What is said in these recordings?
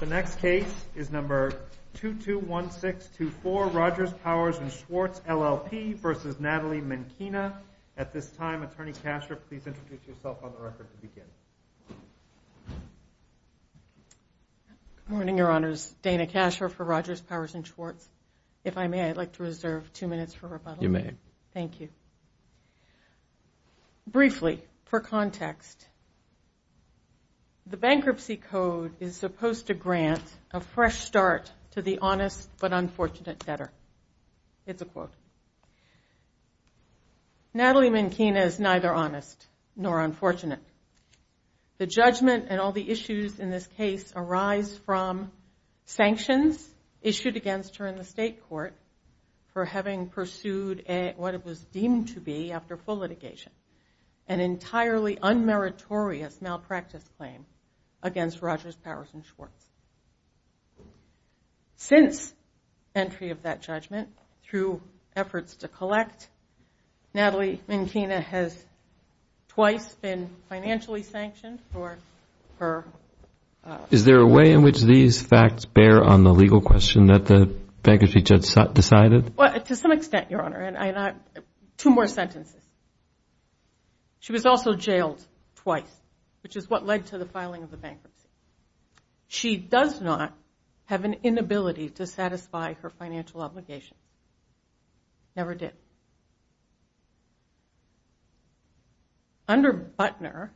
The next case is number 221624, Rogers, Powers & Schwartz, LLP v. Natalie Minkina. At this time, Attorney Kasher, please introduce yourself on the record to begin. Good morning, Your Honors. Dana Kasher for Rogers, Powers & Schwartz. If I may, I'd like to reserve two minutes for rebuttal. You may. Thank you. Briefly, for context, the Bankruptcy Code is supposed to grant a fresh start to the honest but unfortunate debtor. It's a quote. Natalie Minkina is neither honest nor unfortunate. The judgment and all the issues in this case arise from sanctions issued against her in the State Court for having pursued what it was deemed to be, after full litigation, an entirely unmeritorious malpractice claim against Rogers, Powers & Schwartz. Since entry of that judgment, through efforts to collect, Natalie Minkina has twice been financially sanctioned for her... To some extent, Your Honor. Two more sentences. She was also jailed twice, which is what led to the filing of the bankruptcy. She does not have an inability to satisfy her financial obligations. Never did. Under Butner,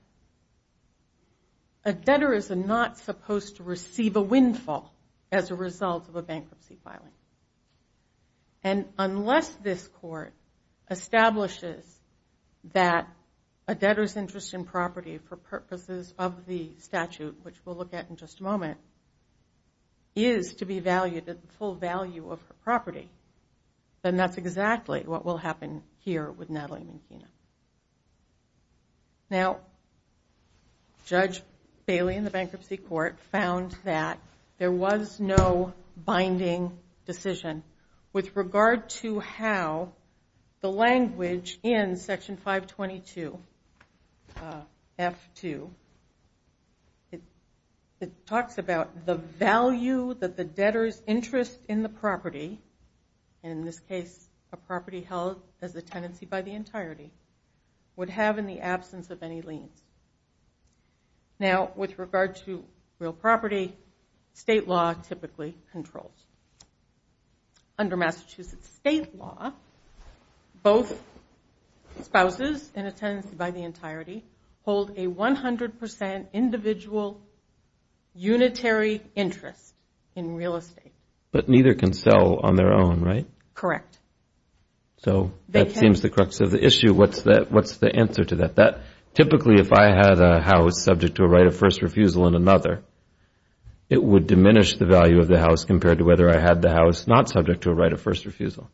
a debtor is not supposed to receive a windfall as a result of a bankruptcy filing. And unless this Court establishes that a debtor's interest in property for purposes of the statute, which we'll look at in just a moment, is to be valued at the full value of her property, then that's exactly what will happen here with Natalie Minkina. Now, Judge Bailey in the Bankruptcy Court found that there was no binding decision with regard to how the language in Section 522, F2, it talks about the value that the debtor's interest in the property, and in this case, a property held as a tenancy by the entirety, would have in the absence of any liens. Now, with regard to real property, state law typically controls. Under Massachusetts state law, both spouses in a tenancy by the entirety hold a 100% individual unitary interest in real estate. But neither can sell on their own, right? Correct. So that seems the crux of the issue. What's the answer to that? Typically, if I had a house subject to a right of first refusal and another, it would diminish the value of the house compared to whether I had the house not subject to a right of first refusal.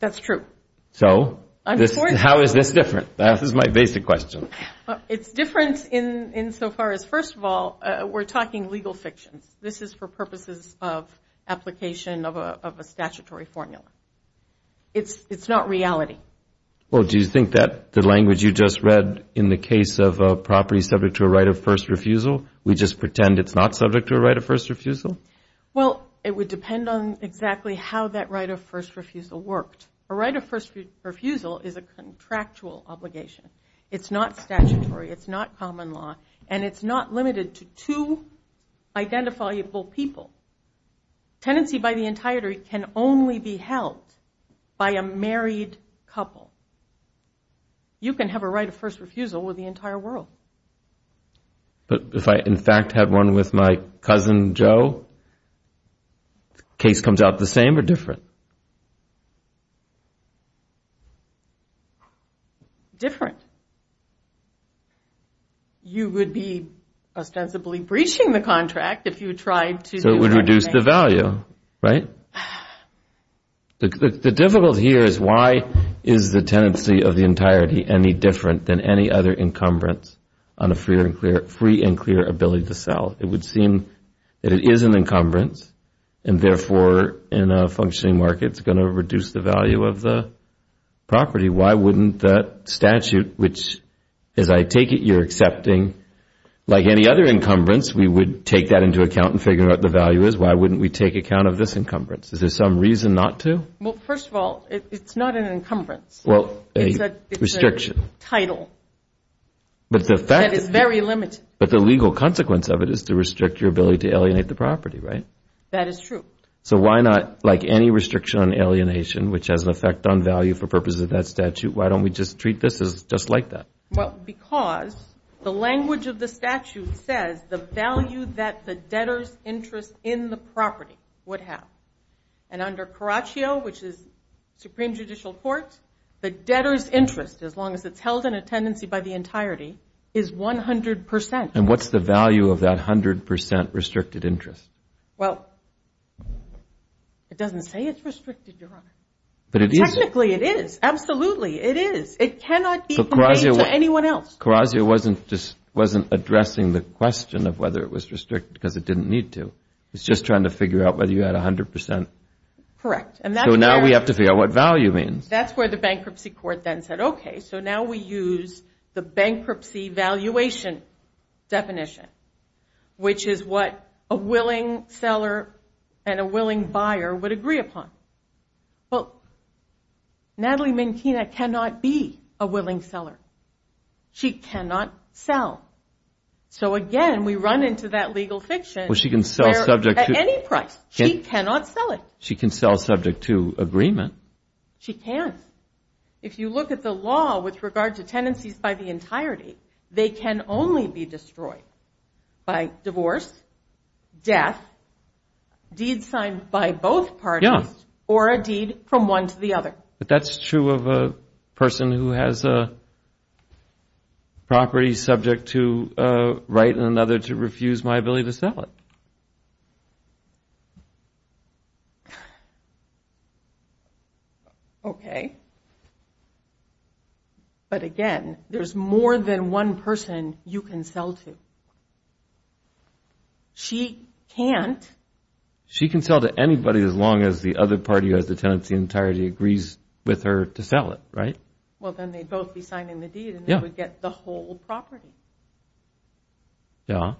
That's true. So how is this different? That is my basic question. It's different insofar as, first of all, we're talking legal fictions. This is for purposes of application of a statutory formula. It's not reality. Well, do you think that the language you just read, in the case of a property subject to a right of first refusal, we just pretend it's not subject to a right of first refusal? Well, it would depend on exactly how that right of first refusal worked. A right of first refusal is a contractual obligation. It's not statutory. It's not common law. And it's not limited to two identifiable people. Tenancy by the entirety can only be held by a married couple. You can have a right of first refusal with the entire world. But if I, in fact, had one with my cousin Joe, case comes out the same or different? Different. You would be ostensibly breaching the contract if you tried to do something. So it would reduce the value, right? The difficulty here is why is the tenancy of the entirety any different than any other encumbrance on a free and clear ability to sell? It would seem that it is an encumbrance and, therefore, in a functioning market, it's going to reduce the value of the property. Why wouldn't that statute, which, as I take it, you're accepting, like any other encumbrance, we would take that into account and figure out what the value is. Why wouldn't we take account of this encumbrance? Is there some reason not to? Well, first of all, it's not an encumbrance. It's a title. That is very limited. But the legal consequence of it is to restrict your ability to alienate the property, right? That is true. So why not, like any restriction on alienation, which has an effect on value for purposes of that statute, why don't we just treat this as just like that? Well, because the language of the statute says the value that the debtor's interest in the property would have. And under Caraccio, which is Supreme Judicial Court, the debtor's interest, as long as it's held in a tenancy by the entirety, is 100%. And what's the value of that 100% restricted interest? Well, it doesn't say it's restricted, Your Honor. But it is. Technically, it is. Absolutely, it is. It cannot be made to anyone else. Caraccio wasn't addressing the question of whether it was restricted because it didn't need to. It was just trying to figure out whether you had 100%. Correct. So now we have to figure out what value means. That's where the bankruptcy court then said, okay, so now we use the bankruptcy valuation definition, which is what a willing seller and a willing buyer would agree upon. Well, Natalie Minkina cannot be a willing seller. She cannot sell. So, again, we run into that legal fiction. Well, she can sell subject to. At any price. She cannot sell it. She can sell subject to agreement. She can. If you look at the law with regard to tenancies by the entirety, they can only be destroyed by divorce, death, deeds signed by both parties, or a deed from one to the other. But that's true of a person who has a property subject to right and another to refuse my ability to sell it. Okay. But, again, there's more than one person you can sell to. She can't. She can sell to anybody as long as the other party who has the tenancy in entirety agrees with her to sell it, right? Well, then they'd both be signing the deed and they would get the whole property. Yeah.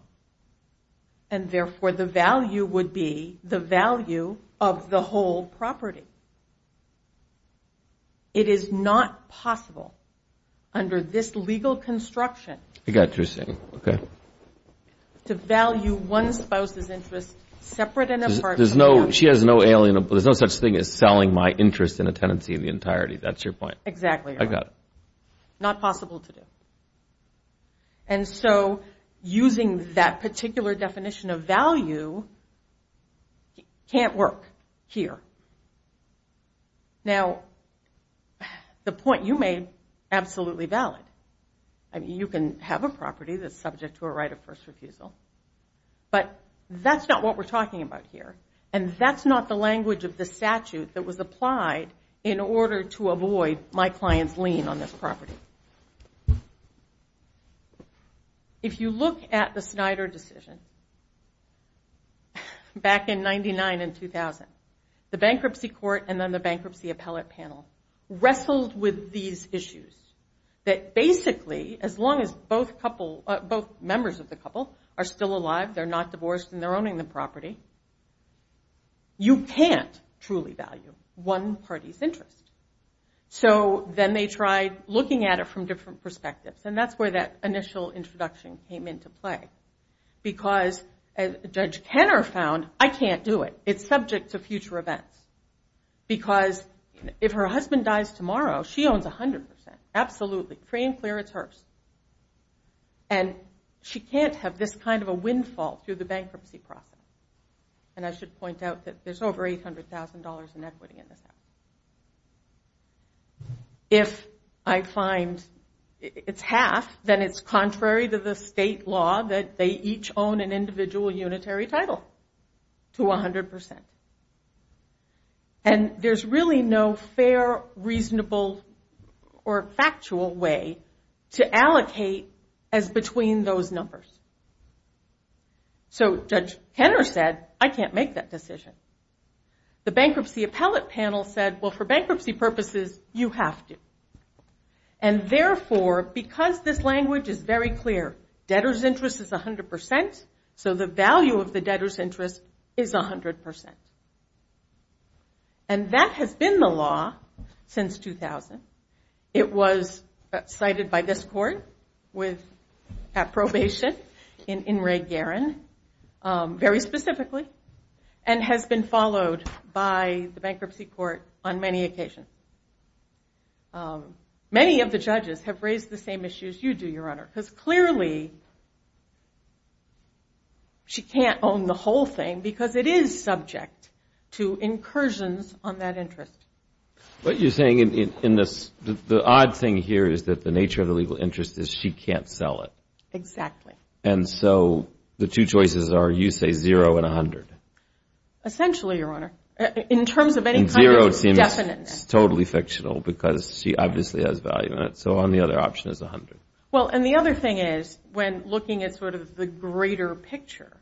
And, therefore, the value would be the value of the whole property. It is not possible under this legal construction to value one spouse's interest separate and apart from the other. There's no such thing as selling my interest in a tenancy in the entirety. That's your point. Exactly right. I got it. Not possible to do. And so using that particular definition of value can't work here. Now, the point you made is absolutely valid. You can have a property that's subject to a right of first refusal, but that's not what we're talking about here, and that's not the language of the statute that was applied in order to avoid my client's lien on this property. If you look at the Snyder decision back in 1999 and 2000, the bankruptcy court and then the bankruptcy appellate panel wrestled with these issues that basically as long as both members of the couple are still alive, they're not divorced, and they're owning the property, you can't truly value one party's interest. So then they tried looking at it from different perspectives, and that's where that initial introduction came into play because Judge Kenner found I can't do it. It's subject to future events because if her husband dies tomorrow, she owns 100 percent. Absolutely. Free and clear, it's hers. And she can't have this kind of a windfall through the bankruptcy process. And I should point out that there's over $800,000 in equity in this house. If I find it's half, then it's contrary to the state law that they each own an individual unitary title to 100 percent. And there's really no fair, reasonable, or factual way to allocate as between those numbers. So Judge Kenner said, I can't make that decision. The bankruptcy appellate panel said, well, for bankruptcy purposes, you have to. And therefore, because this language is very clear, debtor's interest is 100 percent, so the value of the debtor's interest is 100 percent. And that has been the law since 2000. It was cited by this court at probation in Ray Guerin very specifically and has been followed by the bankruptcy court on many occasions. Many of the judges have raised the same issues you do, Your Honor, because clearly she can't own the whole thing because it is subject to incursions on that interest. What you're saying in this, the odd thing here is that the nature of the legal interest is she can't sell it. Exactly. And so the two choices are, you say, zero and 100. Essentially, Your Honor. In terms of any kind of definiteness. And zero seems totally fictional because she obviously has value in it, so on the other option is 100. Well, and the other thing is, when looking at sort of the greater picture,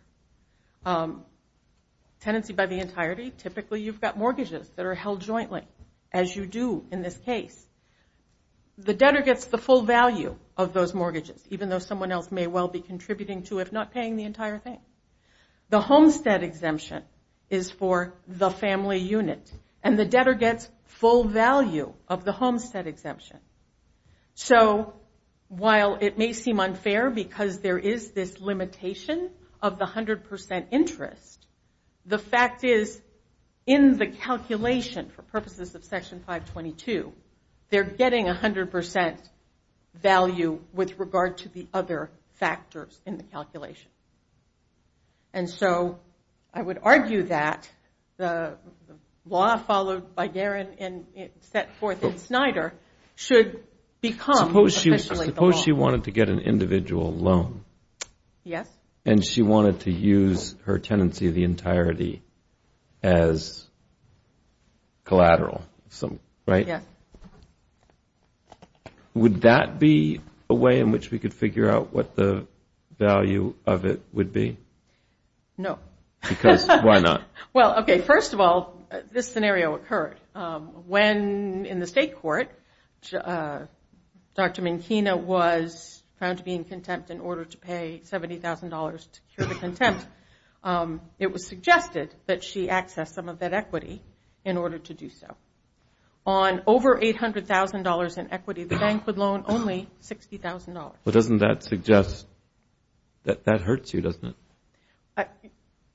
tenancy by the entirety, typically you've got mortgages that are held jointly, as you do in this case. The debtor gets the full value of those mortgages, even though someone else may well be contributing to, if not paying the entire thing. The homestead exemption is for the family unit, and the debtor gets full value of the homestead exemption. So while it may seem unfair because there is this limitation of the 100% interest, the fact is, in the calculation, for purposes of Section 522, they're getting 100% value with regard to the other factors in the calculation. And so I would argue that the law followed by Garin and set forth in Snyder should become essentially the law. Suppose she wanted to get an individual loan. Yes. And she wanted to use her tenancy of the entirety as collateral, right? Yes. Would that be a way in which we could figure out what the value of it would be? No. Because why not? Well, okay, first of all, this scenario occurred. When, in the state court, Dr. Minkina was found to be in contempt in order to pay $70,000 to cure the contempt, it was suggested that she access some of that equity in order to do so. On over $800,000 in equity, the bank would loan only $60,000. But doesn't that suggest that that hurts you, doesn't it?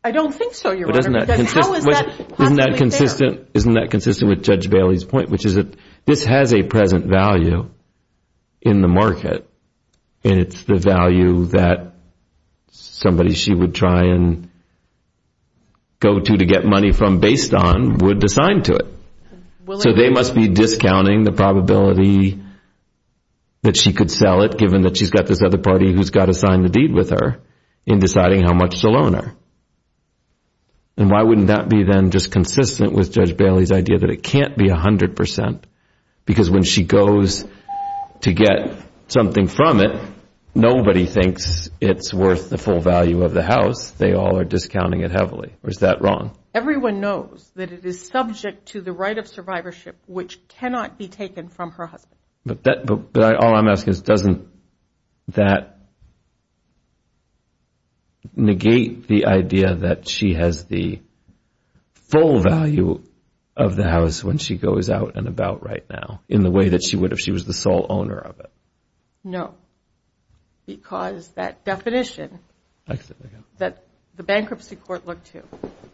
I don't think so, Your Honor. Isn't that consistent with Judge Bailey's point, which is that this has a present value in the market, and it's the value that somebody she would try and go to to get money from based on would assign to it. So they must be discounting the probability that she could sell it, given that she's got this other party who's got to sign the deed with her in deciding how much to loan her. And why wouldn't that be then just consistent with Judge Bailey's idea that it can't be 100%? Because when she goes to get something from it, nobody thinks it's worth the full value of the house. They all are discounting it heavily. Or is that wrong? Everyone knows that it is subject to the right of survivorship, which cannot be taken from her husband. But all I'm asking is, doesn't that negate the idea that she has the full value of the house when she goes out and about right now in the way that she would if she was the sole owner of it? No, because that definition that the bankruptcy court looked to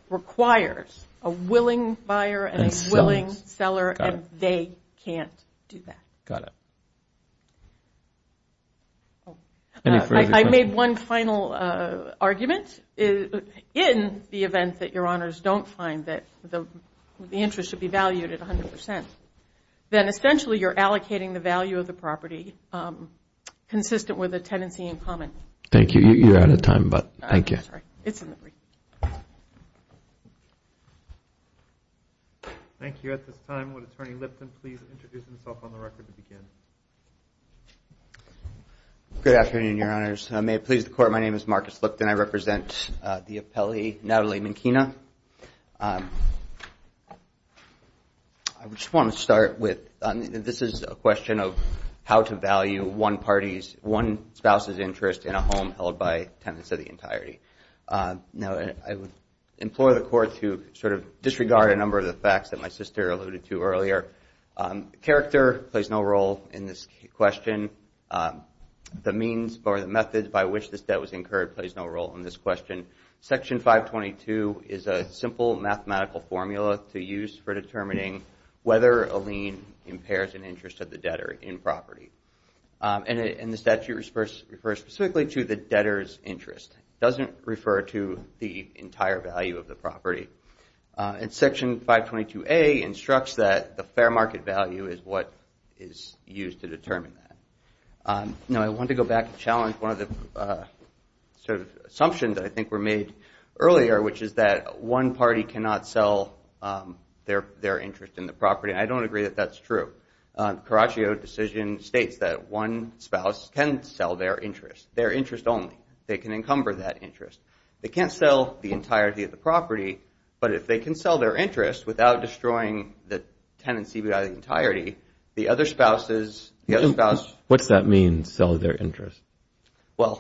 requires a willing buyer and a willing seller, and they can't do that. Got it. I made one final argument. In the event that your honors don't find that the interest should be valued at 100%, then essentially you're allocating the value of the property consistent with a tenancy in common. Thank you. Sorry, it's in the brief. Thank you. At this time, would Attorney Lipton please introduce himself on the record to begin? Good afternoon, your honors. May it please the court, my name is Marcus Lipton. I represent the appellee, Natalie Minkina. I just want to start with, this is a question of how to value one spouse's interest in a home held by tenants of the entirety. Now, I would implore the court to sort of disregard a number of the facts that my sister alluded to earlier. Character plays no role in this question. The means or the methods by which this debt was incurred plays no role in this question. Section 522 is a simple mathematical formula to use for determining whether a lien impairs an interest of the debtor in property. And the statute refers specifically to the debtor's interest. It doesn't refer to the entire value of the property. And Section 522A instructs that the fair market value is what is used to determine that. Now, I want to go back and challenge one of the sort of assumptions that I think were made earlier, which is that one party cannot sell their interest in the property. I don't agree that that's true. Caraccio decision states that one spouse can sell their interest, their interest only. They can encumber that interest. They can't sell the entirety of the property, but if they can sell their interest without destroying the tenancy by the entirety, the other spouse is the other spouse. What does that mean, sell their interest? Well,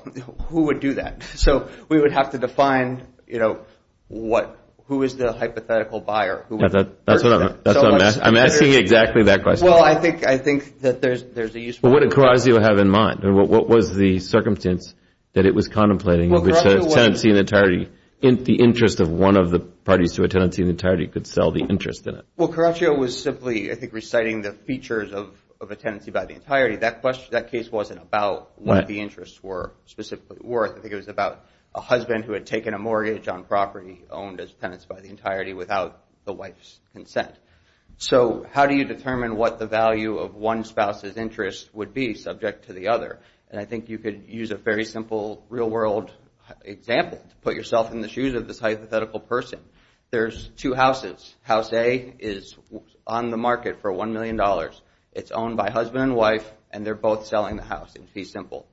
who would do that? So we would have to define, you know, who is the hypothetical buyer? That's what I'm asking. I'm asking exactly that question. Well, I think that there's a use for it. What did Caraccio have in mind? And what was the circumstance that it was contemplating in which a tenancy in entirety, the interest of one of the parties to a tenancy in entirety could sell the interest in it? Well, Caraccio was simply, I think, reciting the features of a tenancy by the entirety. That case wasn't about what the interests were specifically worth. I think it was about a husband who had taken a mortgage on property owned as tenants by the entirety without the wife's consent. So how do you determine what the value of one spouse's interest would be subject to the other? And I think you could use a very simple real-world example to put yourself in the shoes of this hypothetical person. There's two houses. House A is on the market for $1 million. It's owned by husband and wife, and they're both selling the house in fee simple.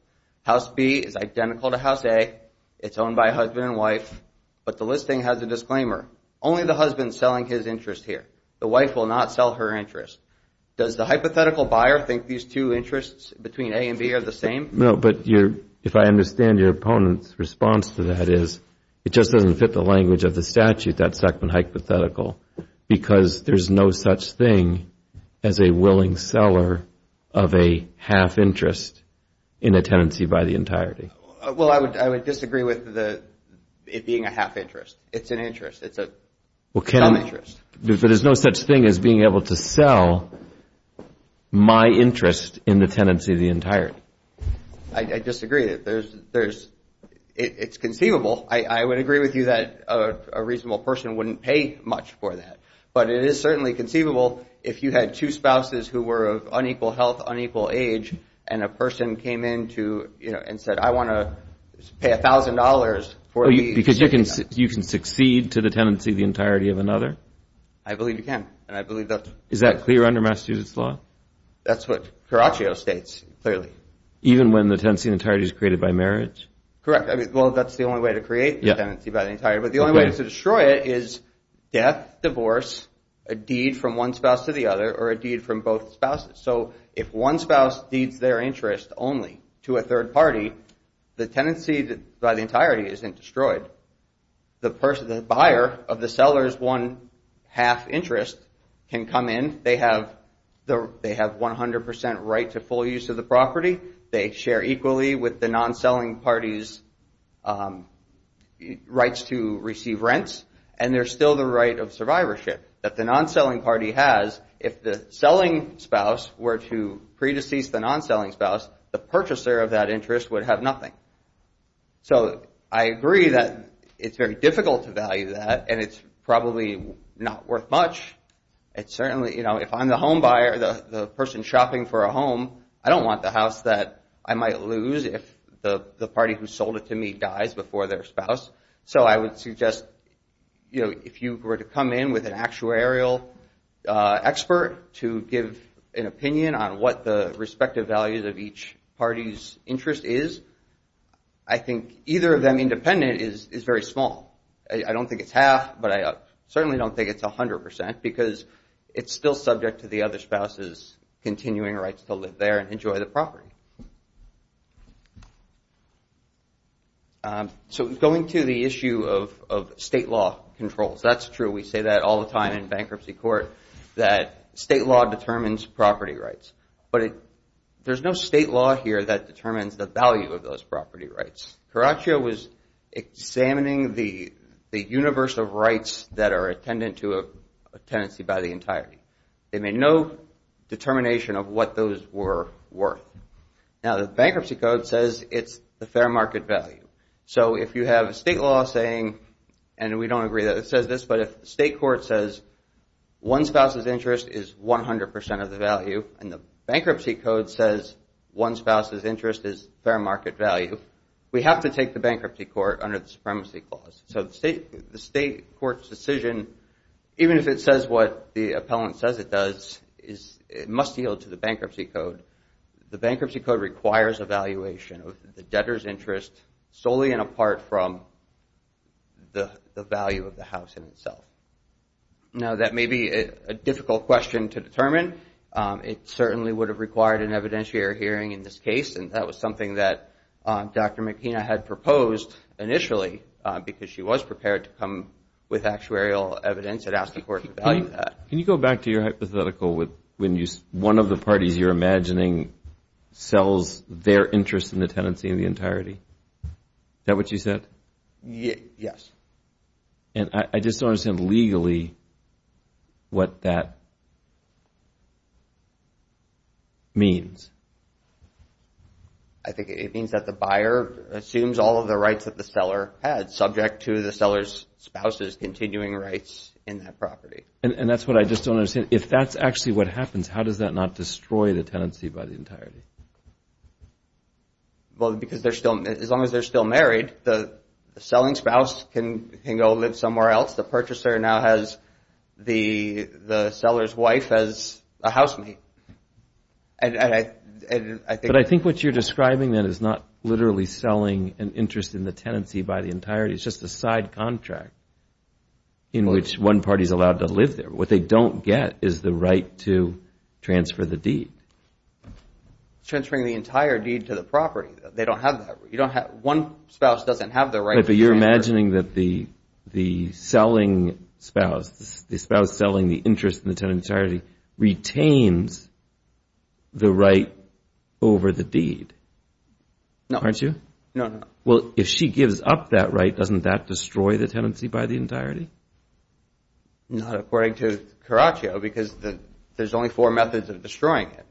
House B is identical to House A. It's owned by husband and wife, but the listing has a disclaimer. Only the husband is selling his interest here. The wife will not sell her interest. Does the hypothetical buyer think these two interests between A and B are the same? No, but if I understand your opponent's response to that is it just doesn't fit the language of the statute that's second hypothetical because there's no such thing as a willing seller of a half interest in a tenancy by the entirety. Well, I would disagree with it being a half interest. It's an interest. It's a sum interest. But there's no such thing as being able to sell my interest in the tenancy of the entirety. I disagree. It's conceivable. I would agree with you that a reasonable person wouldn't pay much for that, but it is certainly conceivable if you had two spouses who were of unequal health, unequal age, and a person came in and said, I want to pay $1,000 for a deed. Because you can succeed to the tenancy of the entirety of another? I believe you can. Is that clear under Massachusetts law? That's what Caraccio states clearly. Even when the tenancy in entirety is created by marriage? Correct. Well, that's the only way to create the tenancy by the entirety, but the only way to destroy it is death, divorce, a deed from one spouse to the other, or a deed from both spouses. So if one spouse deeds their interest only to a third party, the tenancy by the entirety isn't destroyed. The buyer of the seller's one half interest can come in. They have 100% right to full use of the property. They share equally with the non-selling party's rights to receive rents, and there's still the right of survivorship that the non-selling party has if the selling spouse were to pre-decease the non-selling spouse, the purchaser of that interest would have nothing. So I agree that it's very difficult to value that, and it's probably not worth much. It's certainly, you know, if I'm the home buyer, the person shopping for a home, I don't want the house that I might lose if the party who sold it to me dies before their spouse. So I would suggest, you know, if you were to come in with an actuarial expert to give an opinion on what the respective values of each party's interest is, I think either of them independent is very small. I don't think it's half, but I certainly don't think it's 100%, because it's still subject to the other spouse's continuing rights to live there and enjoy the property. Thank you. So going to the issue of state law controls, that's true. We say that all the time in bankruptcy court, that state law determines property rights. But there's no state law here that determines the value of those property rights. Caraccia was examining the universe of rights that are attendant to a tenancy by the entirety. They made no determination of what those were worth. Now, the bankruptcy code says it's the fair market value. So if you have a state law saying, and we don't agree that it says this, but if the state court says one spouse's interest is 100% of the value and the bankruptcy code says one spouse's interest is fair market value, we have to take the bankruptcy court under the supremacy clause. So the state court's decision, even if it says what the appellant says it does, it must yield to the bankruptcy code. The bankruptcy code requires evaluation of the debtor's interest solely and apart from the value of the house in itself. Now, that may be a difficult question to determine. It certainly would have required an evidentiary hearing in this case, and that was something that Dr. McKenna had proposed initially because she was prepared to come with actuarial evidence and ask the court to value that. Can you go back to your hypothetical with when one of the parties you're imagining sells their interest in the tenancy in the entirety? Is that what you said? Yes. And I just don't understand legally what that means. I think it means that the buyer assumes all of the rights that the seller had subject to the seller's spouse's continuing rights in that property. And that's what I just don't understand. If that's actually what happens, how does that not destroy the tenancy by the entirety? Well, because as long as they're still married, the selling spouse can go live somewhere else. The purchaser now has the seller's wife as a housemate. But I think what you're describing then is not literally selling an interest in the tenancy by the entirety. It's just a side contract in which one party is allowed to live there. What they don't get is the right to transfer the deed. Transferring the entire deed to the property. They don't have that. One spouse doesn't have the right to transfer. But you're imagining that the selling spouse, the spouse selling the interest in the tenancy in the entirety, retains the right over the deed, aren't you? No. Well, if she gives up that right, doesn't that destroy the tenancy by the entirety? Not according to Caraccio because there's only four methods of destroying it.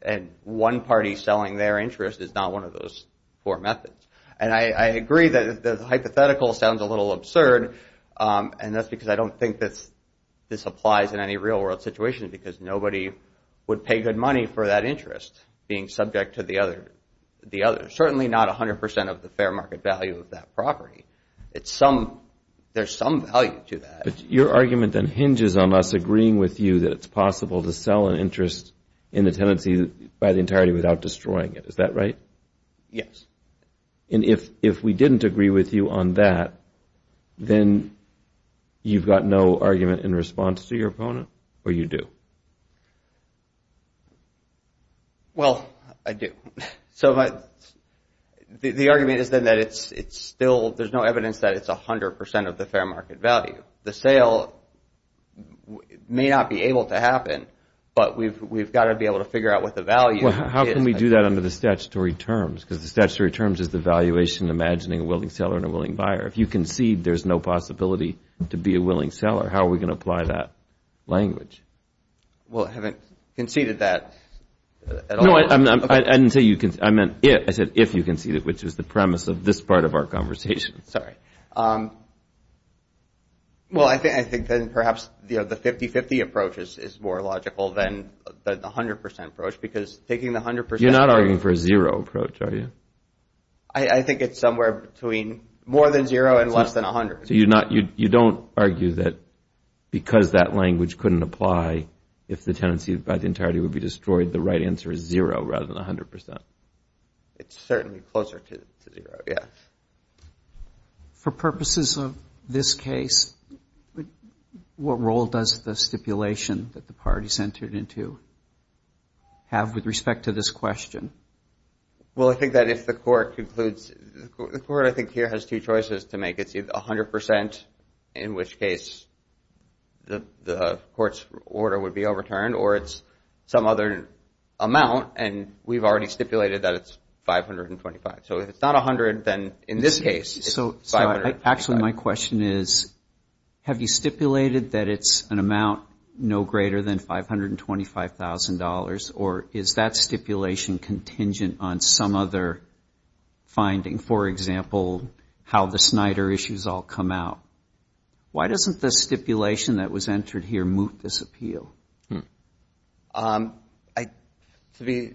And one party selling their interest is not one of those four methods. And I agree that the hypothetical sounds a little absurd. And that's because I don't think this applies in any real world situation because nobody would pay good money for that interest being subject to the other. Certainly not 100% of the fair market value of that property. There's some value to that. But your argument then hinges on us agreeing with you that it's possible to sell an interest in the tenancy by the entirety without destroying it. Is that right? Yes. And if we didn't agree with you on that, then you've got no argument in response to your opponent or you do? Well, I do. So the argument is then that it's still, there's no evidence that it's 100% of the fair market value. The sale may not be able to happen, but we've got to be able to figure out what the value is. Well, how can we do that under the statutory terms? Because the statutory terms is the valuation imagining a willing seller and a willing buyer. If you concede there's no possibility to be a willing seller, how are we going to apply that language? I didn't say you conceded. I meant if. I said if you conceded, which is the premise of this part of our conversation. Sorry. Well, I think then perhaps the 50-50 approach is more logical than the 100% approach because taking the 100% approach. You're not arguing for a zero approach, are you? I think it's somewhere between more than zero and less than 100. So you don't argue that because that language couldn't apply, if the tenancy by the entirety would be destroyed, the right answer is zero rather than 100%. It's certainly closer to zero, yes. For purposes of this case, what role does the stipulation that the parties entered into have with respect to this question? Well, I think that if the court concludes, the court I think here has two choices to make. It's either 100% in which case the court's order would be overturned or it's some other amount and we've already stipulated that it's 525. So if it's not 100, then in this case, it's 500. Actually, my question is have you stipulated that it's an amount no greater than $525,000 or is that stipulation contingent on some other finding? For example, how the Snyder issues all come out. Why doesn't the stipulation that was entered here moot this appeal? To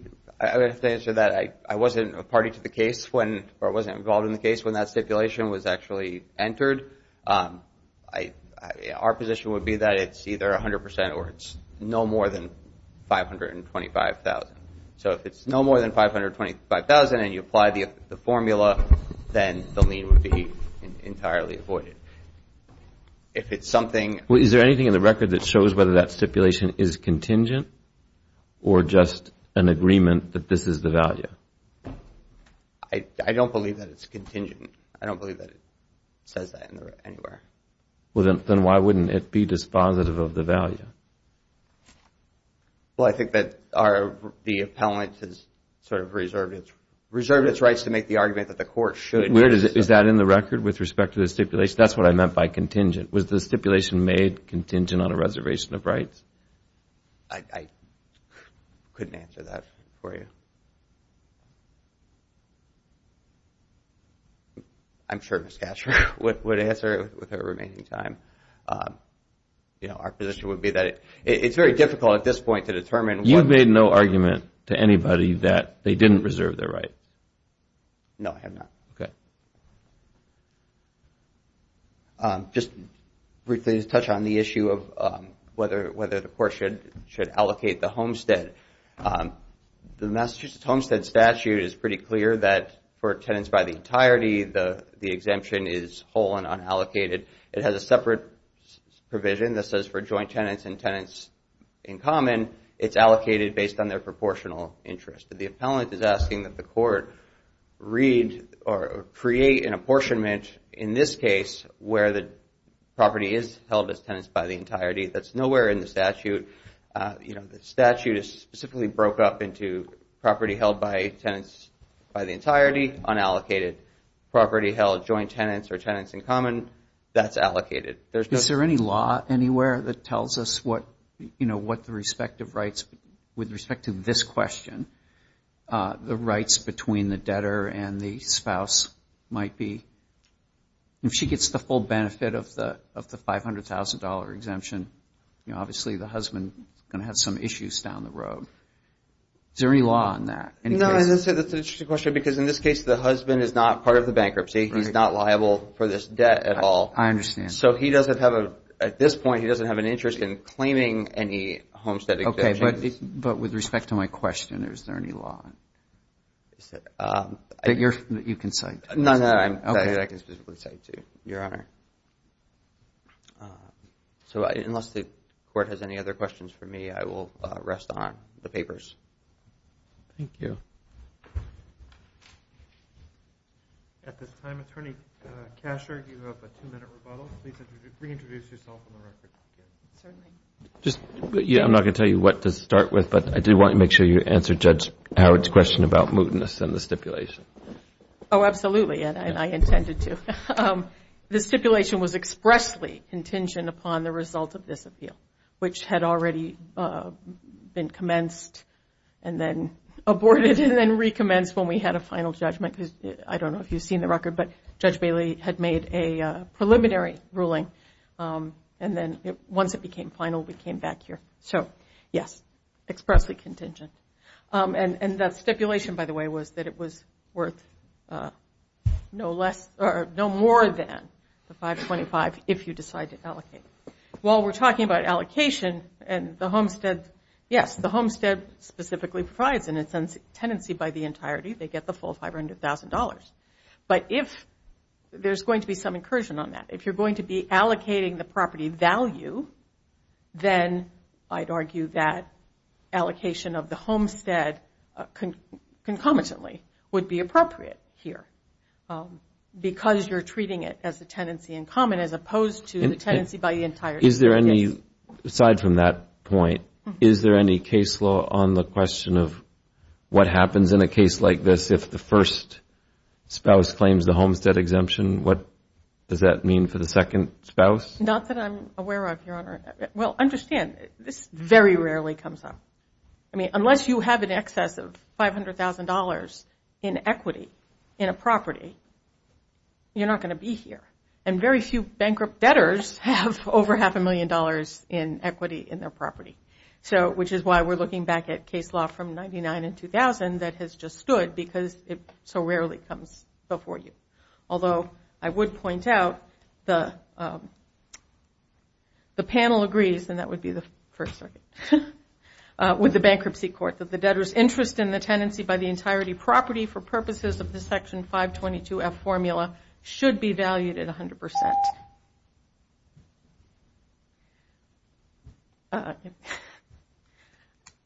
answer that, I wasn't a party to the case or wasn't involved in the case when that stipulation was actually entered. Our position would be that it's either 100% or it's no more than $525,000. So if it's no more than $525,000 and you apply the formula, then the lien would be entirely avoided. Is there anything in the record that shows whether that stipulation is contingent or just an agreement that this is the value? I don't believe that it's contingent. I don't believe that it says that anywhere. Then why wouldn't it be dispositive of the value? Well, I think that the appellant has sort of reserved its rights to make the argument that the court should. Is that in the record with respect to the stipulation? That's what I meant by contingent. Was the stipulation made contingent on a reservation of rights? I couldn't answer that for you. I'm sure Ms. Gatcher would answer with her remaining time. Our position would be that it's very difficult at this point to determine. You've made no argument to anybody that they didn't reserve their rights? No, I have not. Okay. Just briefly to touch on the issue of whether the court should allocate the homestead. The Massachusetts Homestead Statute is pretty clear that for tenants by the entirety, the exemption is whole and unallocated. It has a separate provision that says for joint tenants and tenants in common, it's allocated based on their proportional interest. The appellant is asking that the court read or create an apportionment in this case where the property is held as tenants by the entirety. That's nowhere in the statute. The statute is specifically broke up into property held by tenants by the entirety, unallocated. Property held joint tenants or tenants in common, that's allocated. Is there any law anywhere that tells us what the respective rights, with respect to this question, the rights between the debtor and the spouse might be? If she gets the full benefit of the $500,000 exemption, obviously the husband is going to have some issues down the road. Is there any law on that? That's an interesting question because in this case, the husband is not part of the bankruptcy. He's not liable for this debt at all. I understand. At this point, he doesn't have an interest in claiming any homestead exemptions. With respect to my question, is there any law that you can cite? None that I can specifically cite to, Your Honor. Unless the court has any other questions for me, I will rest on the papers. Thank you. At this time, Attorney Kasher, you have a two-minute rebuttal. Please reintroduce yourself on the record. Certainly. I'm not going to tell you what to start with, but I do want to make sure you answer Judge Howard's question about mootness and the stipulation. Oh, absolutely, and I intended to. The stipulation was expressly contingent upon the result of this appeal, which had already been commenced and then aborted and then recommenced when we had a final judgment. I don't know if you've seen the record, but Judge Bailey had made a preliminary ruling, and then once it became final, we came back here. So, yes, expressly contingent. And that stipulation, by the way, was that it was worth no more than the 525 if you decide to allocate. While we're talking about allocation and the homestead, yes, the homestead specifically provides, in a sense, tenancy by the entirety. They get the full $500,000. But if there's going to be some incursion on that, if you're going to be allocating the property value, then I'd argue that allocation of the homestead concomitantly would be appropriate here because you're treating it as a tenancy in common as opposed to the tenancy by the entirety. Is there any, aside from that point, is there any case law on the question of what happens in a case like this if the first spouse claims the homestead exemption? What does that mean for the second spouse? Not that I'm aware of, Your Honor. Well, understand, this very rarely comes up. I mean, unless you have an excess of $500,000 in equity in a property, you're not going to be here. And very few bankrupt debtors have over half a million dollars in equity in their property, which is why we're looking back at case law from 99 and 2000 that has just stood because it so rarely comes before you. Although I would point out the panel agrees, and that would be the First Circuit, with the Bankruptcy Court, that the debtor's interest in the tenancy by the entirety property for purposes of the Section 522-F formula should be valued at 100%.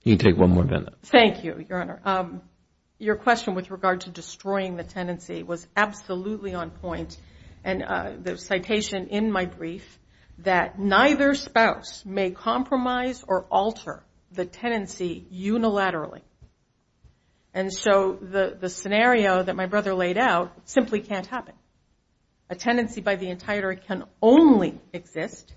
You can take one more, Brenda. Thank you, Your Honor. Your question with regard to destroying the tenancy was absolutely on point. And the citation in my brief that neither spouse may compromise or alter the tenancy unilaterally. And so the scenario that my brother laid out simply can't happen. A tenancy by the entirety can only exist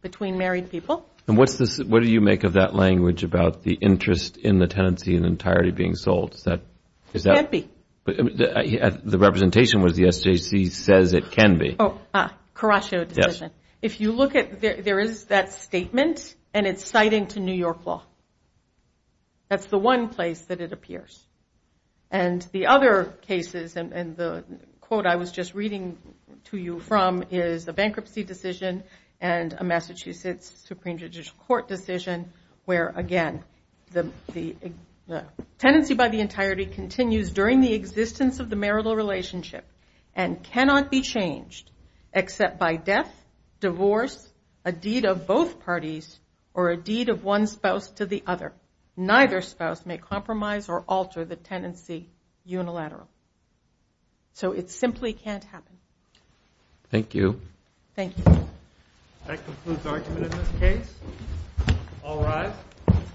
between married people. And what do you make of that language about the interest in the tenancy in entirety being sold? It can't be. The representation with the SJC says it can be. Oh, Caraccio decision. If you look at it, there is that statement, and it's citing to New York law. That's the one place that it appears. And the other cases, and the quote I was just reading to you from, is a bankruptcy decision and a Massachusetts Supreme Judicial Court decision where, again, the tenancy by the entirety continues during the existence of the marital relationship and cannot be changed except by death, divorce, a deed of both parties, or a deed of one spouse to the other. Neither spouse may compromise or alter the tenancy unilaterally. So it simply can't happen. Thank you. Thank you. That concludes argument in this case. All rise.